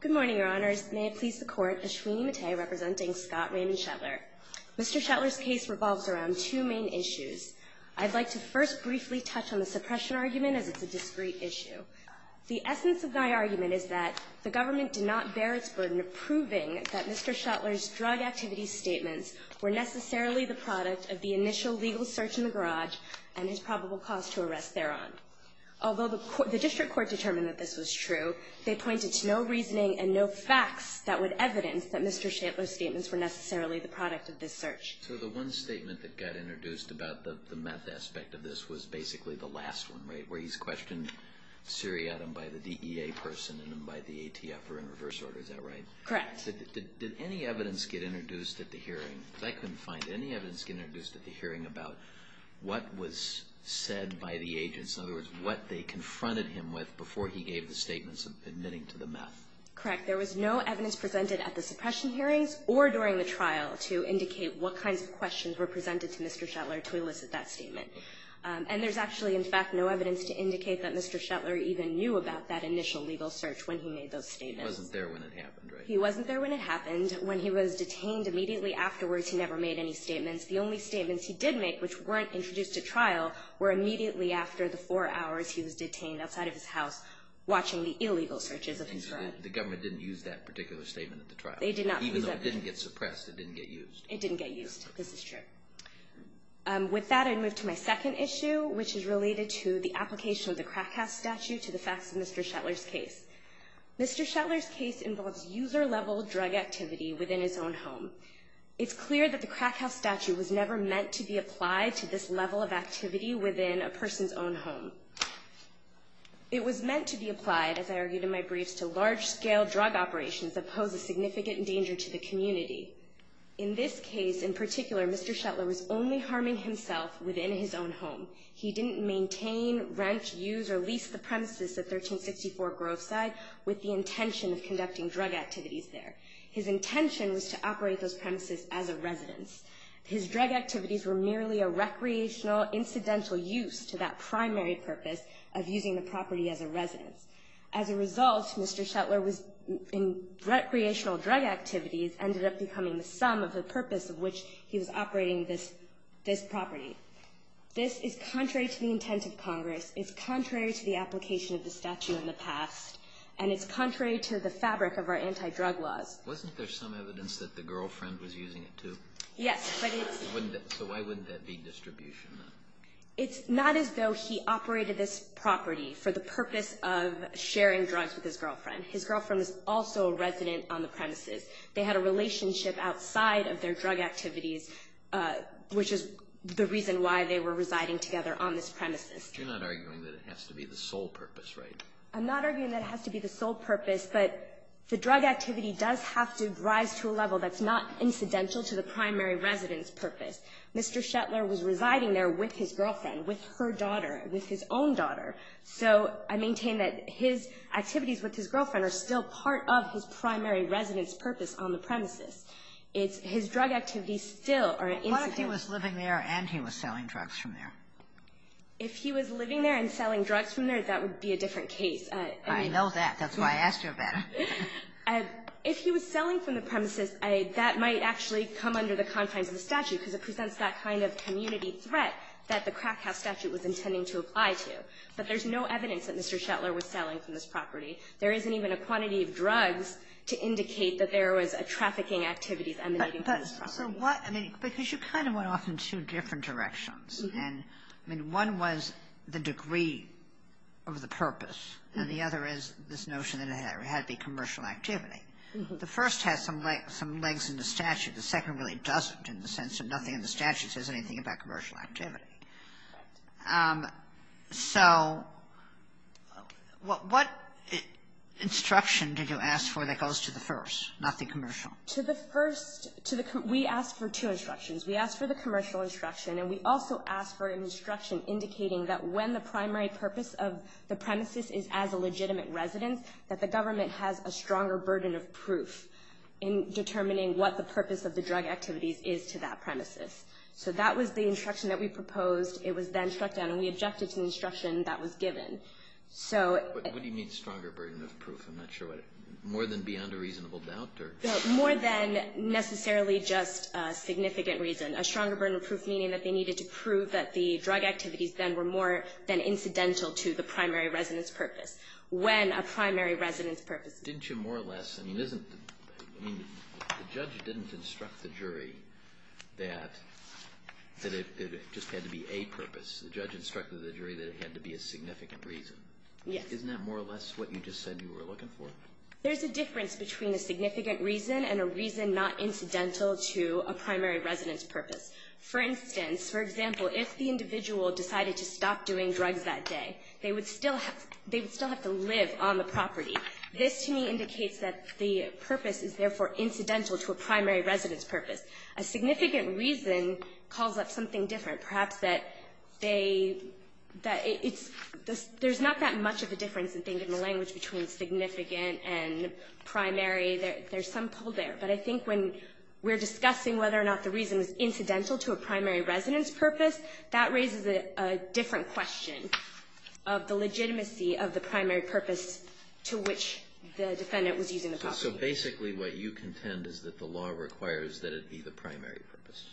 Good morning, your honors. May it please the court, Ashwini Mate representing Scott Raymond Shetler. Mr. Shetler's case revolves around two main issues. I'd like to first briefly touch on the suppression argument, as it's a discreet issue. The essence of my argument is that the government did not bear its burden of proving that Mr. Shetler's drug activity statements were necessarily the product of the initial legal search in the garage and his probable cause to arrest thereon. Although the district court determined that this was true, they pointed to no reasoning and no facts that would evidence that Mr. Shetler's statements were necessarily the product of this search. So the one statement that got introduced about the meth aspect of this was basically the last one, right, where he's questioned Syriac and by the DEA person and then by the ATF or in reverse order, is that right? Correct. Did any evidence get introduced at the hearing? Because I couldn't find it. Did any evidence get introduced at the hearing about what was said by the agents, in other words, what they confronted him with before he gave the statements of admitting to the meth? Correct. There was no evidence presented at the suppression hearings or during the trial to indicate what kinds of questions were presented to Mr. Shetler to elicit that statement. And there's actually, in fact, no evidence to indicate that Mr. Shetler even knew about that initial legal search when he made those statements. He wasn't there when it happened, right? He wasn't there when it happened. When he was detained, immediately afterwards, he never made any statements. The only statements he did make, which weren't introduced at trial, were immediately after the four hours he was detained outside of his house, watching the illegal searches of his drug. The government didn't use that particular statement at the trial. They did not use that. Even though it didn't get suppressed, it didn't get used. It didn't get used. This is true. With that, I move to my second issue, which is related to the application of the crack house statute to the facts of Mr. Shetler's case. Mr. Shetler's case involves user-level drug activity within his own home. It's clear that the crack house statute was never meant to be applied to this level of activity within a person's own home. It was meant to be applied, as I argued in my briefs, to large-scale drug operations that pose a significant danger to the community. In this case, in particular, Mr. Shetler was only harming himself within his own home. He didn't maintain, rent, use, or lease the premises at 1364 Grove Side with the intention of conducting drug activities there. His intention was to operate those premises as a residence. His drug activities were merely a recreational, incidental use to that primary purpose of using the property as a residence. As a result, Mr. Shetler was in recreational drug activities, ended up becoming the sum of the purpose of which he was operating this property. This is contrary to the intent of Congress. It's contrary to the application of the statute in the past. And it's contrary to the fabric of our anti-drug laws. Wasn't there some evidence that the girlfriend was using it, too? Yes, but it's... So why wouldn't that be distribution, then? It's not as though he operated this property for the purpose of sharing drugs with his girlfriend. His girlfriend is also a resident on the premises. They had a relationship outside of their drug activities, which is the reason why they were residing together on this premises. But you're not arguing that it has to be the sole purpose, right? I'm not arguing that it has to be the sole purpose, but the drug activity does have to rise to a level that's not incidental to the primary residence purpose. Mr. Shetler was residing there with his girlfriend, with her daughter, with his own daughter. So I maintain that his activities with his girlfriend are still part of his primary residence purpose on the premises. It's his drug activities still are incidental. What if he was living there and he was selling drugs from there? If he was living there and selling drugs from there, that would be a different case. I know that. That's why I asked you about it. If he was selling from the premises, that might actually come under the confines of the statute because it presents that kind of community threat that the crack But there's no evidence that Mr. Shetler was selling from this property. There isn't even a quantity of drugs to indicate that there was a trafficking activity emanating from this property. But so what? I mean, because you kind of went off in two different directions. And, I mean, one was the degree of the purpose, and the other is this notion that it had to be commercial activity. The first has some legs in the statute. The second really doesn't in the sense of nothing in the statute says anything about commercial activity. Right. So what instruction did you ask for that goes to the first, not the commercial? To the first, we asked for two instructions. We asked for the commercial instruction, and we also asked for an instruction indicating that when the primary purpose of the premises is as a legitimate residence, that the government has a stronger burden of proof in determining what the purpose of the drug activities is to that premises. So that was the instruction that we proposed. It was then struck down, and we objected to the instruction that was given. So — But what do you mean, stronger burden of proof? I'm not sure what — more than beyond a reasonable doubt, or — More than necessarily just a significant reason. A stronger burden of proof meaning that they needed to prove that the drug activities then were more than incidental to the primary residence purpose, when a primary residence purpose — Didn't you more or less — I mean, isn't — I mean, the judge didn't instruct the jury that it just had to be a purpose. The judge instructed the jury that it had to be a significant reason. Yes. Isn't that more or less what you just said you were looking for? There's a difference between a significant reason and a reason not incidental to a primary residence purpose. For instance, for example, if the individual decided to stop doing drugs that day, they would still have to live on the property. This to me indicates that the purpose is therefore incidental to a primary residence purpose. A significant reason calls up something different. Perhaps that they — that it's — there's not that much of a difference, I think, in the language between significant and primary. There's some pull there. But I think when we're discussing whether or not the reason is incidental to a primary residence purpose, that raises a different question of the legitimacy of the primary purpose to which the defendant was using the property. So basically what you contend is that the law requires that it be the primary purpose.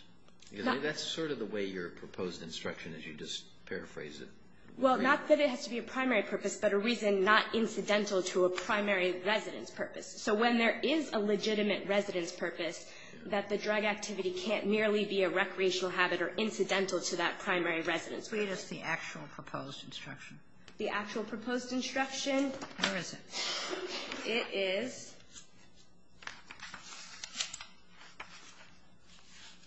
That's sort of the way your proposed instruction is. You just paraphrase it. Well, not that it has to be a primary purpose, but a reason not incidental to a primary residence purpose. So when there is a legitimate residence purpose, that the drug activity can't merely be a recreational habit or incidental to that primary residence purpose. Read us the actual proposed instruction. The actual proposed instruction? Where is it? It is —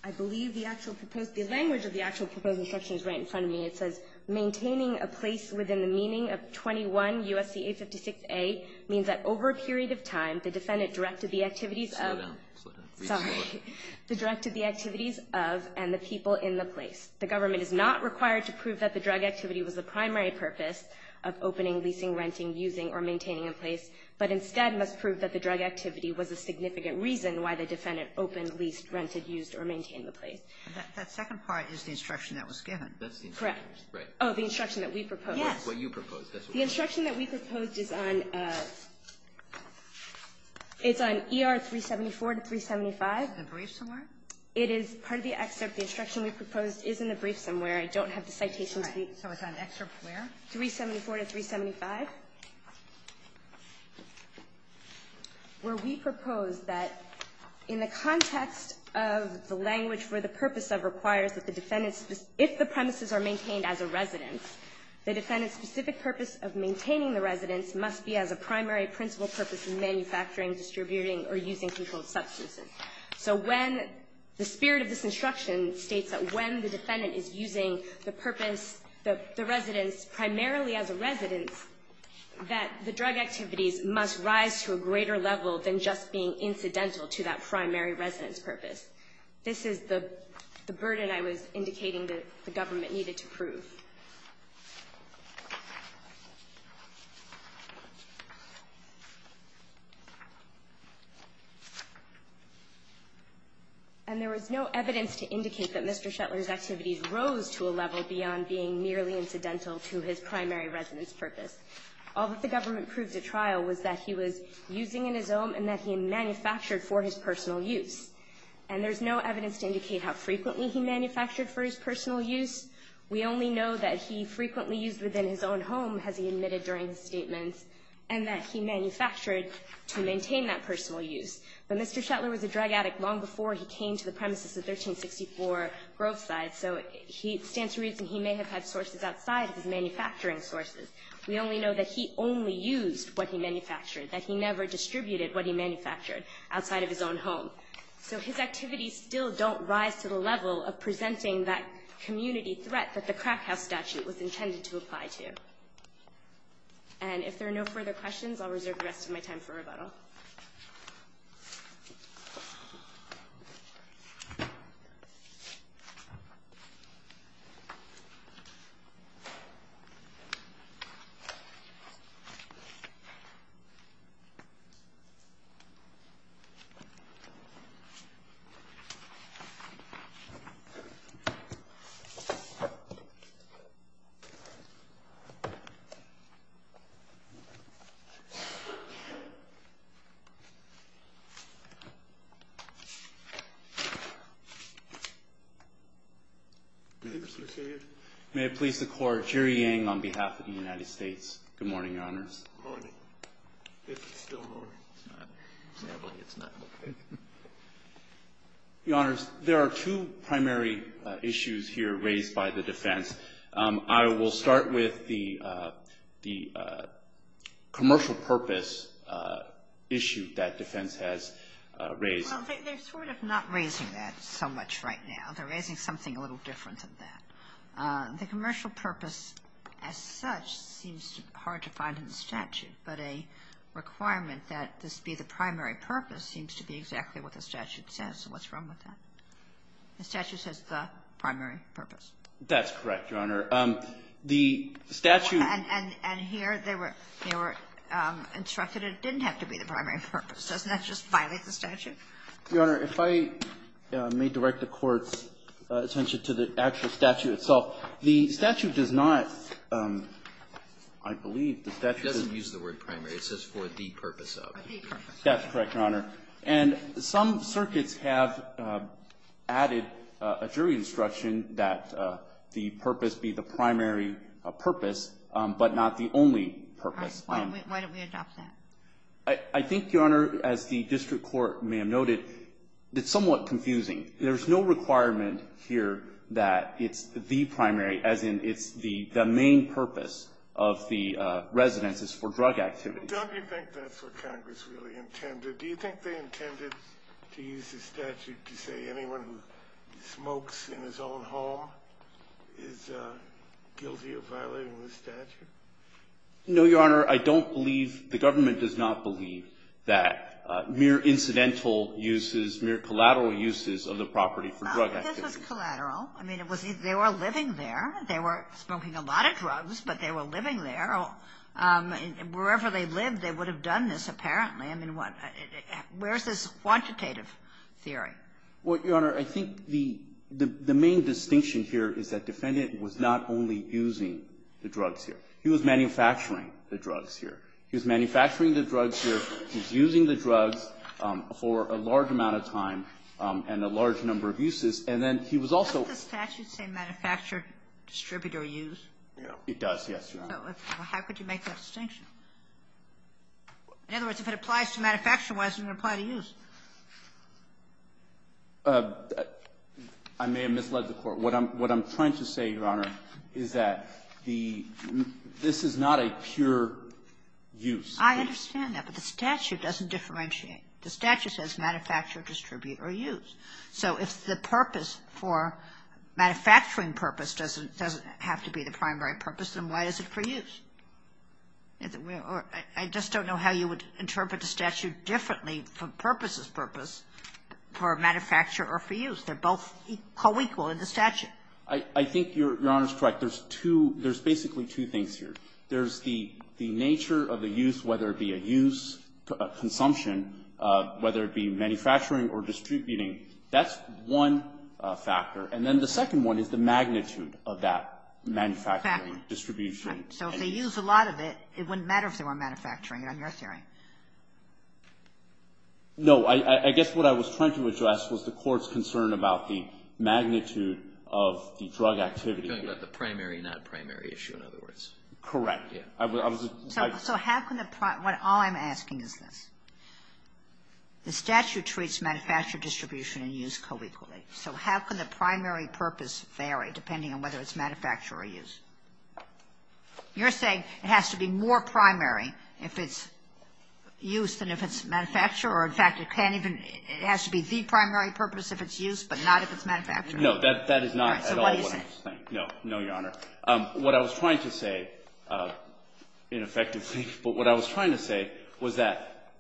I believe the actual proposed — the language of the actual proposed instruction is right in front of me. It says, Maintaining a place within the meaning of 21 U.S.C. 856a means that over a period of time, the defendant directed the activities of — Slow down. Slow down. Sorry. The directed the activities of and the people in the place. The government is not required to prove that the drug activity was the primary purpose of opening, leasing, renting, using, or maintaining a place, but instead must prove that the drug activity was a significant reason why the defendant opened, leased, rented, used, or maintained the place. That second part is the instruction that was given. That's the instruction. Correct. Right. Oh, the instruction that we proposed. Yes. What you proposed. The instruction that we proposed is on — it's on ER 374 to 375. Is it in the brief somewhere? It is part of the excerpt. The instruction we proposed is in the brief somewhere. I don't have the citation to be — So it's on excerpt where? 374 to 375, where we propose that in the context of the language where the purpose of requires that the defendant's — if the premises are maintained as a residence, the defendant's specific purpose of maintaining the residence must be as a primary principal purpose in manufacturing, distributing, or using controlled substances. So when — the spirit of this instruction states that when the defendant is using the purpose, the residence, primarily as a residence, that the drug activities must rise to a greater level than just being incidental to that primary residence purpose. This is the burden I was indicating that the government needed to prove. And there was no evidence to indicate that Mr. Shetler's activities rose to a level beyond being merely incidental to his primary residence purpose. All that the government proved at trial was that he was using in his own and that he manufactured for his personal use. And there's no evidence to indicate how frequently he manufactured for his personal use. We only know that he frequently used within his own home, as he admitted during his statements, and that he manufactured to maintain that personal use. But Mr. Shetler was a drug addict long before he came to the premises of 1364 Groveside, so he stands to reason he may have had sources outside of his manufacturing sources. We only know that he only used what he manufactured, that he never distributed what he manufactured outside of his own home. So his activities still don't rise to the level of presenting that community threat that the crack house statute was intended to apply to. And if there are no further questions, I'll reserve the rest of my time for rebuttal. May I please the court, Jerry Yang on behalf of the United States. Good morning, Your Honors. Your Honors, there are two primary issues here raised by the defense. I will start with the commercial purpose issue that defense has raised. They're sort of not raising that so much right now. They're raising something a little different than that. The commercial purpose as such seems hard to find in the statute, but a requirement that this be the primary purpose seems to be exactly what the statute says. So what's wrong with that? The statute says the primary purpose. That's correct, Your Honor. The statute And here they were instructed it didn't have to be the primary purpose. Doesn't that just violate the statute? Your Honor, if I may direct the court's attention to the actual statute itself. The statute does not, I believe, the statute Doesn't use the word primary. It says for the purpose of. That's correct, Your Honor. And some circuits have added a jury instruction that the purpose be the primary purpose, but not the only purpose. Why don't we adopt that? I think, Your Honor, as the district court may have noted, it's somewhat confusing. There's no requirement here that it's the primary, as in it's the main purpose of the residence is for drug activity. Don't you think that's what Congress really intended? Do you think they intended to use the statute to say anyone who smokes in his own home is guilty of violating the statute? No, Your Honor. I don't believe, the government does not believe that mere incidental uses, mere collateral uses of the property for drug activity. This was collateral. I mean, they were living there. They were smoking a lot of drugs, but they were living there. Wherever they lived, they would have done this, apparently. I mean, where's this quantitative theory? Well, Your Honor, I think the main distinction here is that defendant was not only using the drugs here. He was manufacturing the drugs here. He was manufacturing the drugs here. He was using the drugs for a large amount of time and a large number of uses. And then he was also ---- Doesn't the statute say manufacture, distribute, or use? It does, yes, Your Honor. How could you make that distinction? In other words, if it applies to manufacture, why doesn't it apply to use? I may have misled the Court. What I'm trying to say, Your Honor, is that the ---- this is not a pure use. I understand that, but the statute doesn't differentiate. The statute says manufacture, distribute, or use. So if the purpose for manufacturing purpose doesn't have to be the primary purpose, then why is it for use? I just don't know how you would interpret the statute differently from purpose is purpose for manufacture or for use. They're both co-equal in the statute. I think Your Honor's correct. There's two ---- there's basically two things here. There's the nature of the use, whether it be a use, a consumption, whether it be manufacturing or distributing. That's one factor. And then the second one is the magnitude of that manufacturing, distribution. So if they use a lot of it, it wouldn't matter if they were manufacturing it, on your theory. No. I guess what I was trying to address was the Court's concern about the magnitude of the drug activity. You're talking about the primary, non-primary issue, in other words. Correct. I was ---- So how can the ---- all I'm asking is this. The statute treats manufacture, distribution, and use co-equally. So how can the primary purpose vary, depending on whether it's manufacture or use? You're saying it has to be more primary if it's use than if it's manufacture or, in fact, it can't even ---- it has to be the primary purpose if it's use, but not if it's manufacture? No. That is not at all what I'm saying. All right. So what do you say? No. No, Your Honor. What I was trying to say, ineffectively, but what I was trying to say was that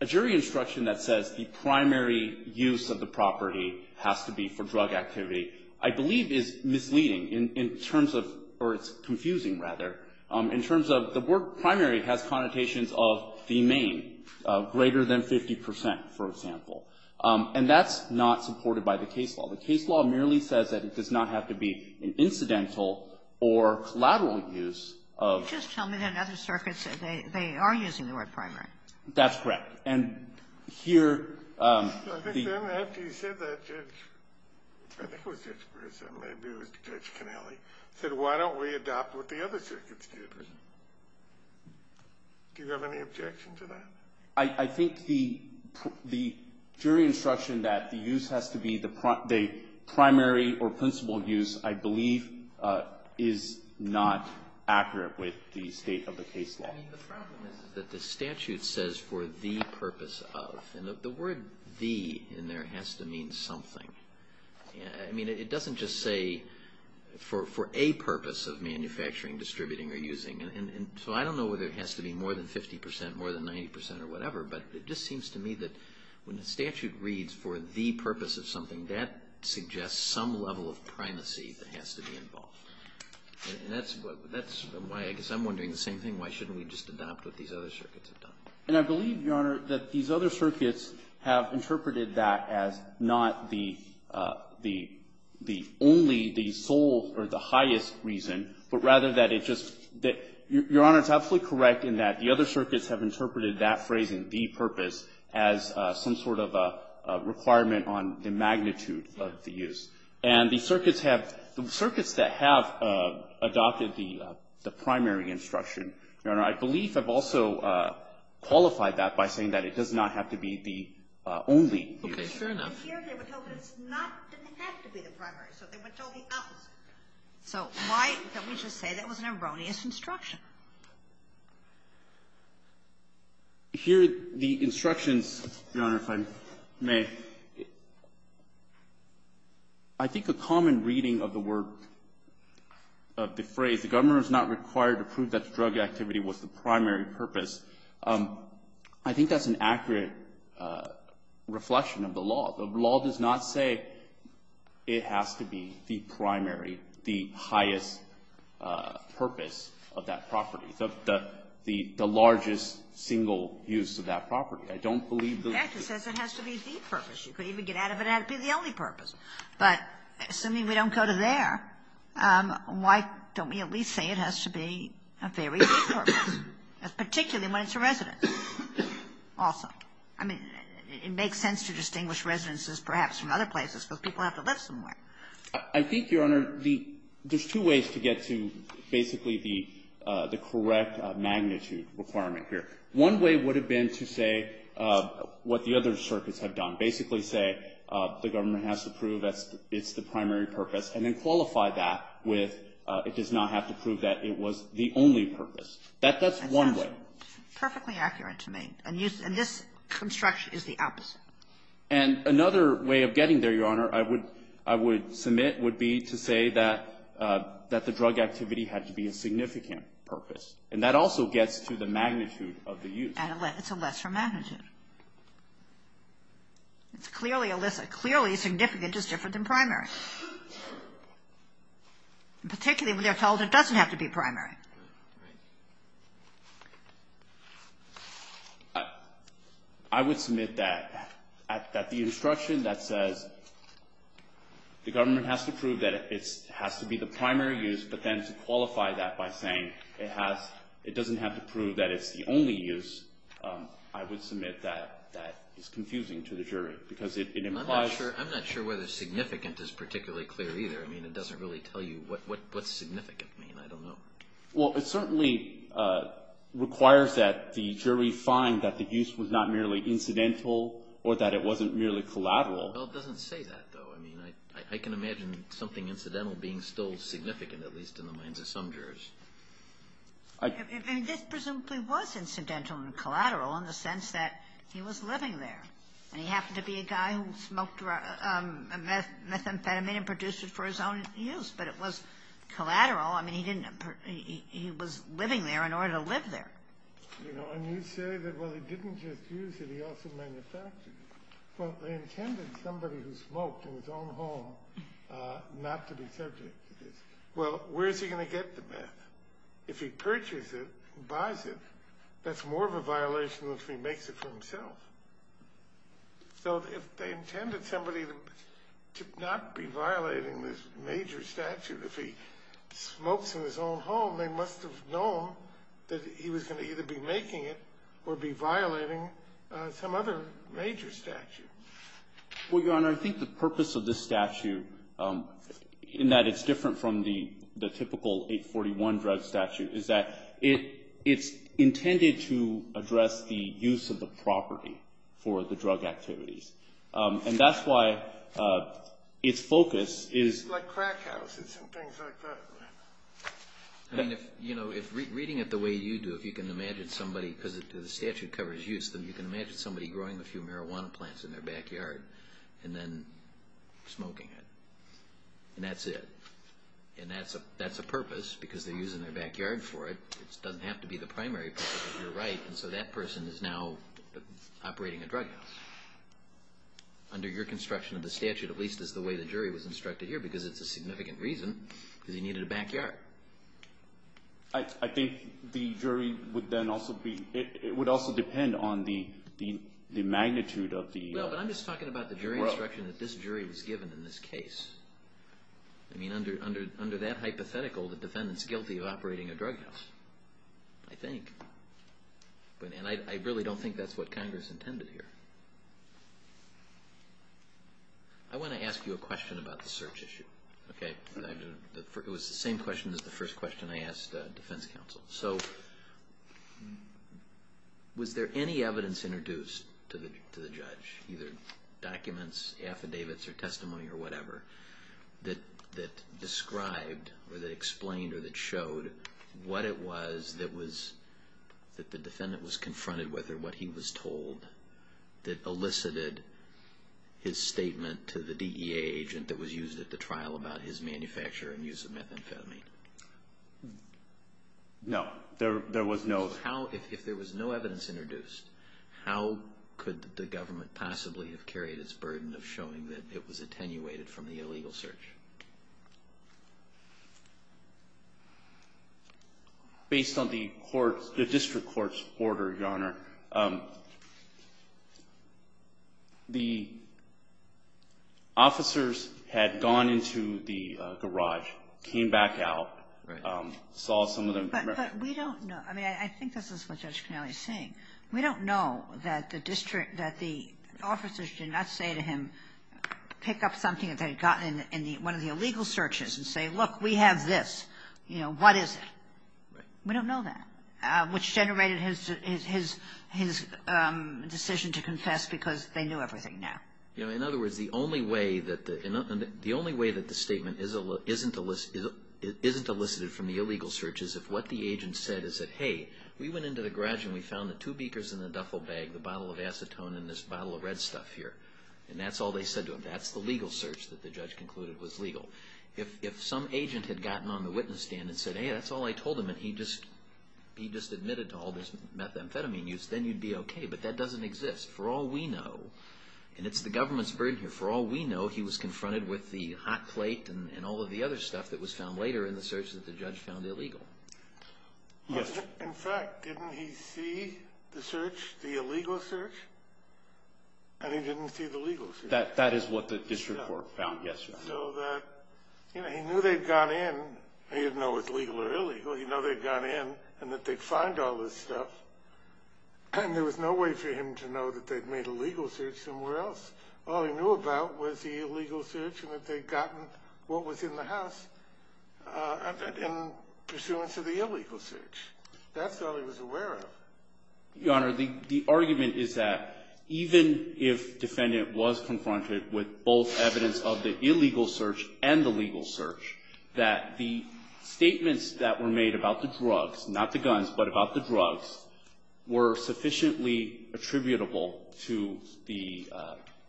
a jury instruction that says the primary use of the property has to be for drug activity, I believe, is misleading in terms of or it's confusing, rather, in terms of the word primary has connotations of the main, greater than 50 percent, for example. And that's not supported by the case law. The case law merely says that it does not have to be an incidental or collateral use of ---- Just tell me that other circuits, they are using the word primary. That's correct. And here, the ---- Well, then, after you said that, Judge, I think it was Judge Breslin, maybe it was Judge Connelly, said, why don't we adopt what the other circuits did? Do you have any objection to that? I think the jury instruction that the use has to be the primary or principled use, I believe, is not accurate with the state of the case law. I mean, the problem is that the statute says for the purpose of, and the word the in there has to mean something. I mean, it doesn't just say for a purpose of manufacturing, distributing, or using. So I don't know whether it has to be more than 50 percent, more than 90 percent, or whatever, but it just seems to me that when the statute reads for the purpose of something, that suggests some level of primacy that has to be involved. And that's why, I guess I'm wondering the same thing, why shouldn't we just adopt what these other circuits have done? And I believe, Your Honor, that these other circuits have interpreted that as not the only, the sole, or the highest reason, but rather that it just ---- Your Honor, it's absolutely correct in that the other circuits have interpreted that phrase in the purpose as some sort of a requirement on the magnitude of the use. And the Your Honor, I believe I've also qualified that by saying that it does not have to be the only use. Okay. Fair enough. And here they were told that it's not, didn't have to be the primary, so they were told the opposite. So why don't we just say that was an erroneous instruction? Here, the instructions, Your Honor, if I may, I think a common reading of the word of the phrase, the government is not required to prove that the drug activity was the primary purpose, I think that's an accurate reflection of the law. The law does not say it has to be the primary, the highest purpose of that property, the largest single use of that property. I don't believe the ---- In fact, it says it has to be the purpose. You could even get out of it and have it be the only purpose. But assuming we don't go to there, why don't we at least say it has to be a very big purpose, particularly when it's a residence also? I mean, it makes sense to distinguish residences perhaps from other places because people have to live somewhere. I think, Your Honor, the ---- there's two ways to get to basically the correct magnitude requirement here. One way would have been to say what the other circuits have done, basically say the government has to prove that it's the primary purpose, and then qualify that with it does not have to prove that it was the only purpose. That's one way. It sounds perfectly accurate to me. And this construction is the opposite. And another way of getting there, Your Honor, I would submit would be to say that the drug activity had to be a significant purpose. And that also gets to the magnitude of the use. And it's a lesser magnitude. It's clearly a list. Clearly significant is different than primary. Particularly when they're told it doesn't have to be primary. I would submit that at the instruction that says the government has to prove that it has to be the primary use, but then to qualify that by saying it doesn't have to be, I would submit that that is confusing to the jury because it implies ---- I'm not sure whether significant is particularly clear either. I mean, it doesn't really tell you what significant means. I don't know. Well, it certainly requires that the jury find that the use was not merely incidental or that it wasn't merely collateral. Well, it doesn't say that, though. I mean, I can imagine something incidental being still significant, at least in the minds of some jurors. I mean, this presumably was incidental and collateral in the sense that he was living there. And he happened to be a guy who smoked methamphetamine and produced it for his own use. But it was collateral. I mean, he didn't ---- he was living there in order to live there. You know, and you say that, well, he didn't just use it. He also manufactured it. Well, they intended somebody who smoked in his own home not to be subject to this. Well, where is he going to get the meth? If he purchases it and buys it, that's more of a violation than if he makes it for himself. So if they intended somebody to not be violating this major statute, if he smokes in his own home, they must have known that he was going to either be making it or be violating some other major statute. Well, Your Honor, I think the purpose of this statute, in that it's different from the typical 841 drug statute, is that it's intended to address the use of the property for the drug activities. And that's why its focus is ---- Like crack houses and things like that. I mean, if, you know, if reading it the way you do, if you can imagine somebody because the statute covers use, then you can imagine somebody growing a few marijuana plants in their backyard and then smoking it. And that's it. And that's a purpose because they're using their backyard for it. It doesn't have to be the primary purpose. You're right. And so that person is now operating a drug house. Under your construction of the statute, at least is the way the jury was instructed here because it's a significant reason because he needed a backyard. I think the jury would then also be, it would also depend on the magnitude of the ---- Well, but I'm just talking about the jury instruction that this jury was given in this case. I mean, under that hypothetical, the defendant's guilty of operating a drug house, I think. And I really don't think that's what Congress intended here. I want to ask you a question about the search issue. Okay? It was the same question as the first question I asked the defense counsel. So was there any evidence introduced to the judge, either documents, affidavits or testimony or whatever, that described or that explained or that showed what it was that the defendant was confronted with or what he was told that elicited his statement to the DEA agent that was used at the trial about his manufacture and use of methamphetamine? No. There was no ---- How, if there was no evidence introduced, how could the government possibly have carried its burden of showing that it was attenuated from the illegal search? Based on the court's ---- the district court's order, Your Honor, the officers had gone into the garage, came back out, saw some of the ---- But we don't know. I mean, I think this is what Judge Connelly is saying. We don't know that the district, that the officers did not say to him, pick up something that they had gotten in one of the illegal searches and say, look, we have this. You know, what is it? We don't know that, which generated his decision to confess because they knew everything now. In other words, the only way that the statement isn't elicited from the illegal search is if what the agent said is that, hey, we went into the garage and we found the two beakers in the duffel bag, the bottle of acetone and this bottle of red stuff here. And that's all they said to him. That's the legal search that the judge concluded was legal. If some agent had gotten on the witness stand and said, hey, that's all I told him, and he just admitted to all this methamphetamine use, then you'd be okay. But that doesn't exist. For all we know, and it's the government's burden here, for all we know, he was confronted with the hot plate and all of the other stuff that was found later in the search that the judge found illegal. In fact, didn't he see the search, the illegal search? And he didn't see the legal search. That is what the district court found, yes. So that, you know, he knew they'd gone in. He didn't know it was legal or illegal. He knew they'd gone in and that they'd find all this stuff. And there was no way for him to know that they'd made a legal search somewhere else. All he knew about was the illegal search and that they'd gotten what was in the house. In pursuance of the illegal search. That's all he was aware of. Your Honor, the argument is that even if defendant was confronted with both evidence of the illegal search and the legal search, that the statements that were made about the drugs, not the guns, but about the drugs, were sufficiently attributable to the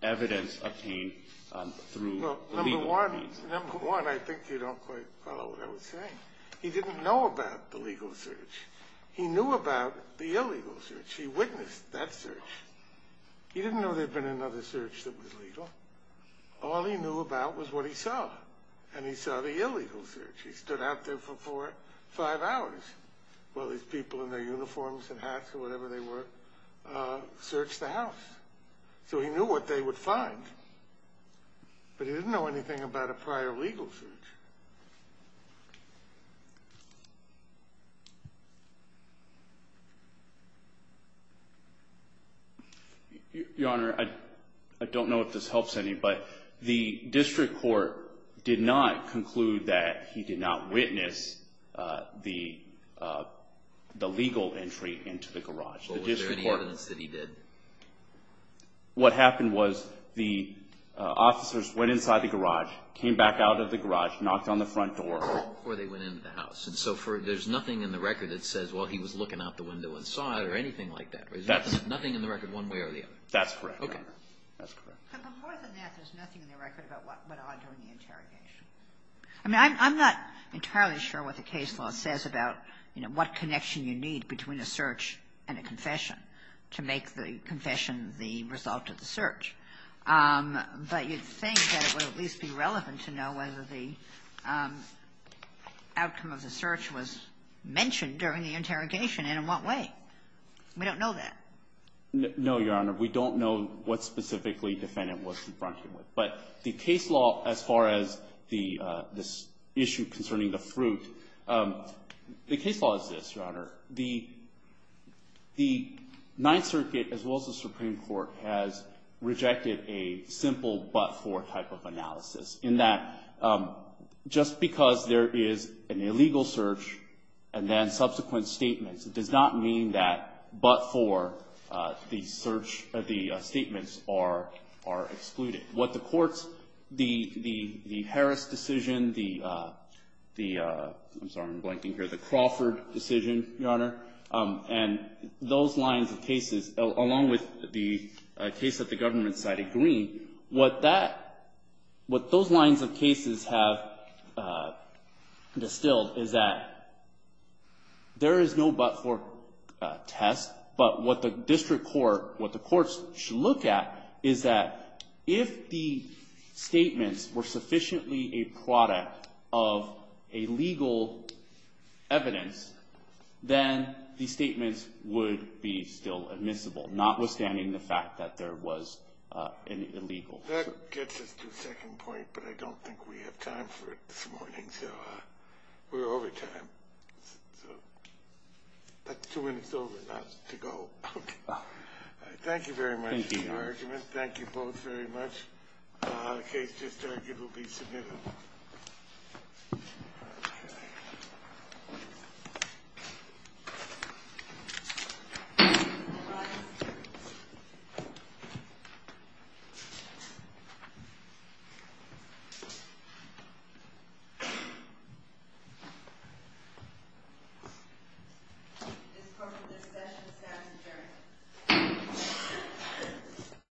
evidence obtained through legal means. Number one, I think you don't quite follow what I was saying. He didn't know about the legal search. He knew about the illegal search. He witnessed that search. He didn't know there'd been another search that was legal. All he knew about was what he saw. And he saw the illegal search. He stood out there for four, five hours while these people in their uniforms and hats or whatever they were searched the house. So he knew what they would find. But he didn't know anything about a prior legal search. Your Honor, I don't know if this helps anybody. The district court did not conclude that he did not witness the legal entry into the garage. Was there any evidence that he did? What happened was the officers went inside the garage, came back out of the garage, knocked on the front door before they went into the house. And so there's nothing in the record that says, well, he was looking out the window and saw it or anything like that. There's nothing in the record one way or the other. That's correct. Okay. That's correct. But more than that, there's nothing in the record about what went on during the interrogation. I mean, I'm not entirely sure what the case law says about, you know, what connection you need between a search and a confession to make the confession the result of the search. But you'd think that it would at least be relevant to know whether the outcome of the search was mentioned during the interrogation and in what way. We don't know that. No, Your Honor. We don't know what specifically defendant was confronted with. But the case law, as far as the issue concerning the fruit, the case law is this, Your Honor. The Ninth Circuit, as well as the Supreme Court, has rejected a simple but-for type of analysis in that just because there is an illegal search and then subsequent statements, it does not mean that but-for, the search or the statements are excluded. What the courts, the Harris decision, the, I'm sorry, I'm blanking here, the Crawford decision, Your Honor, and those lines of cases, along with the case that the government cited, Green, what that, what those lines of cases have distilled is that there is no but-for test, but what the district court, what the courts should look at is that if the statements were sufficiently a product of a legal evidence, then the statements would be still admissible, notwithstanding the fact that there was an illegal search. That gets us to the second point, but I don't think we have time for it this morning. So we're over time. But two minutes over, not to go. Thank you very much for your argument. Thank you both very much. The case just argued will be submitted. Thank you.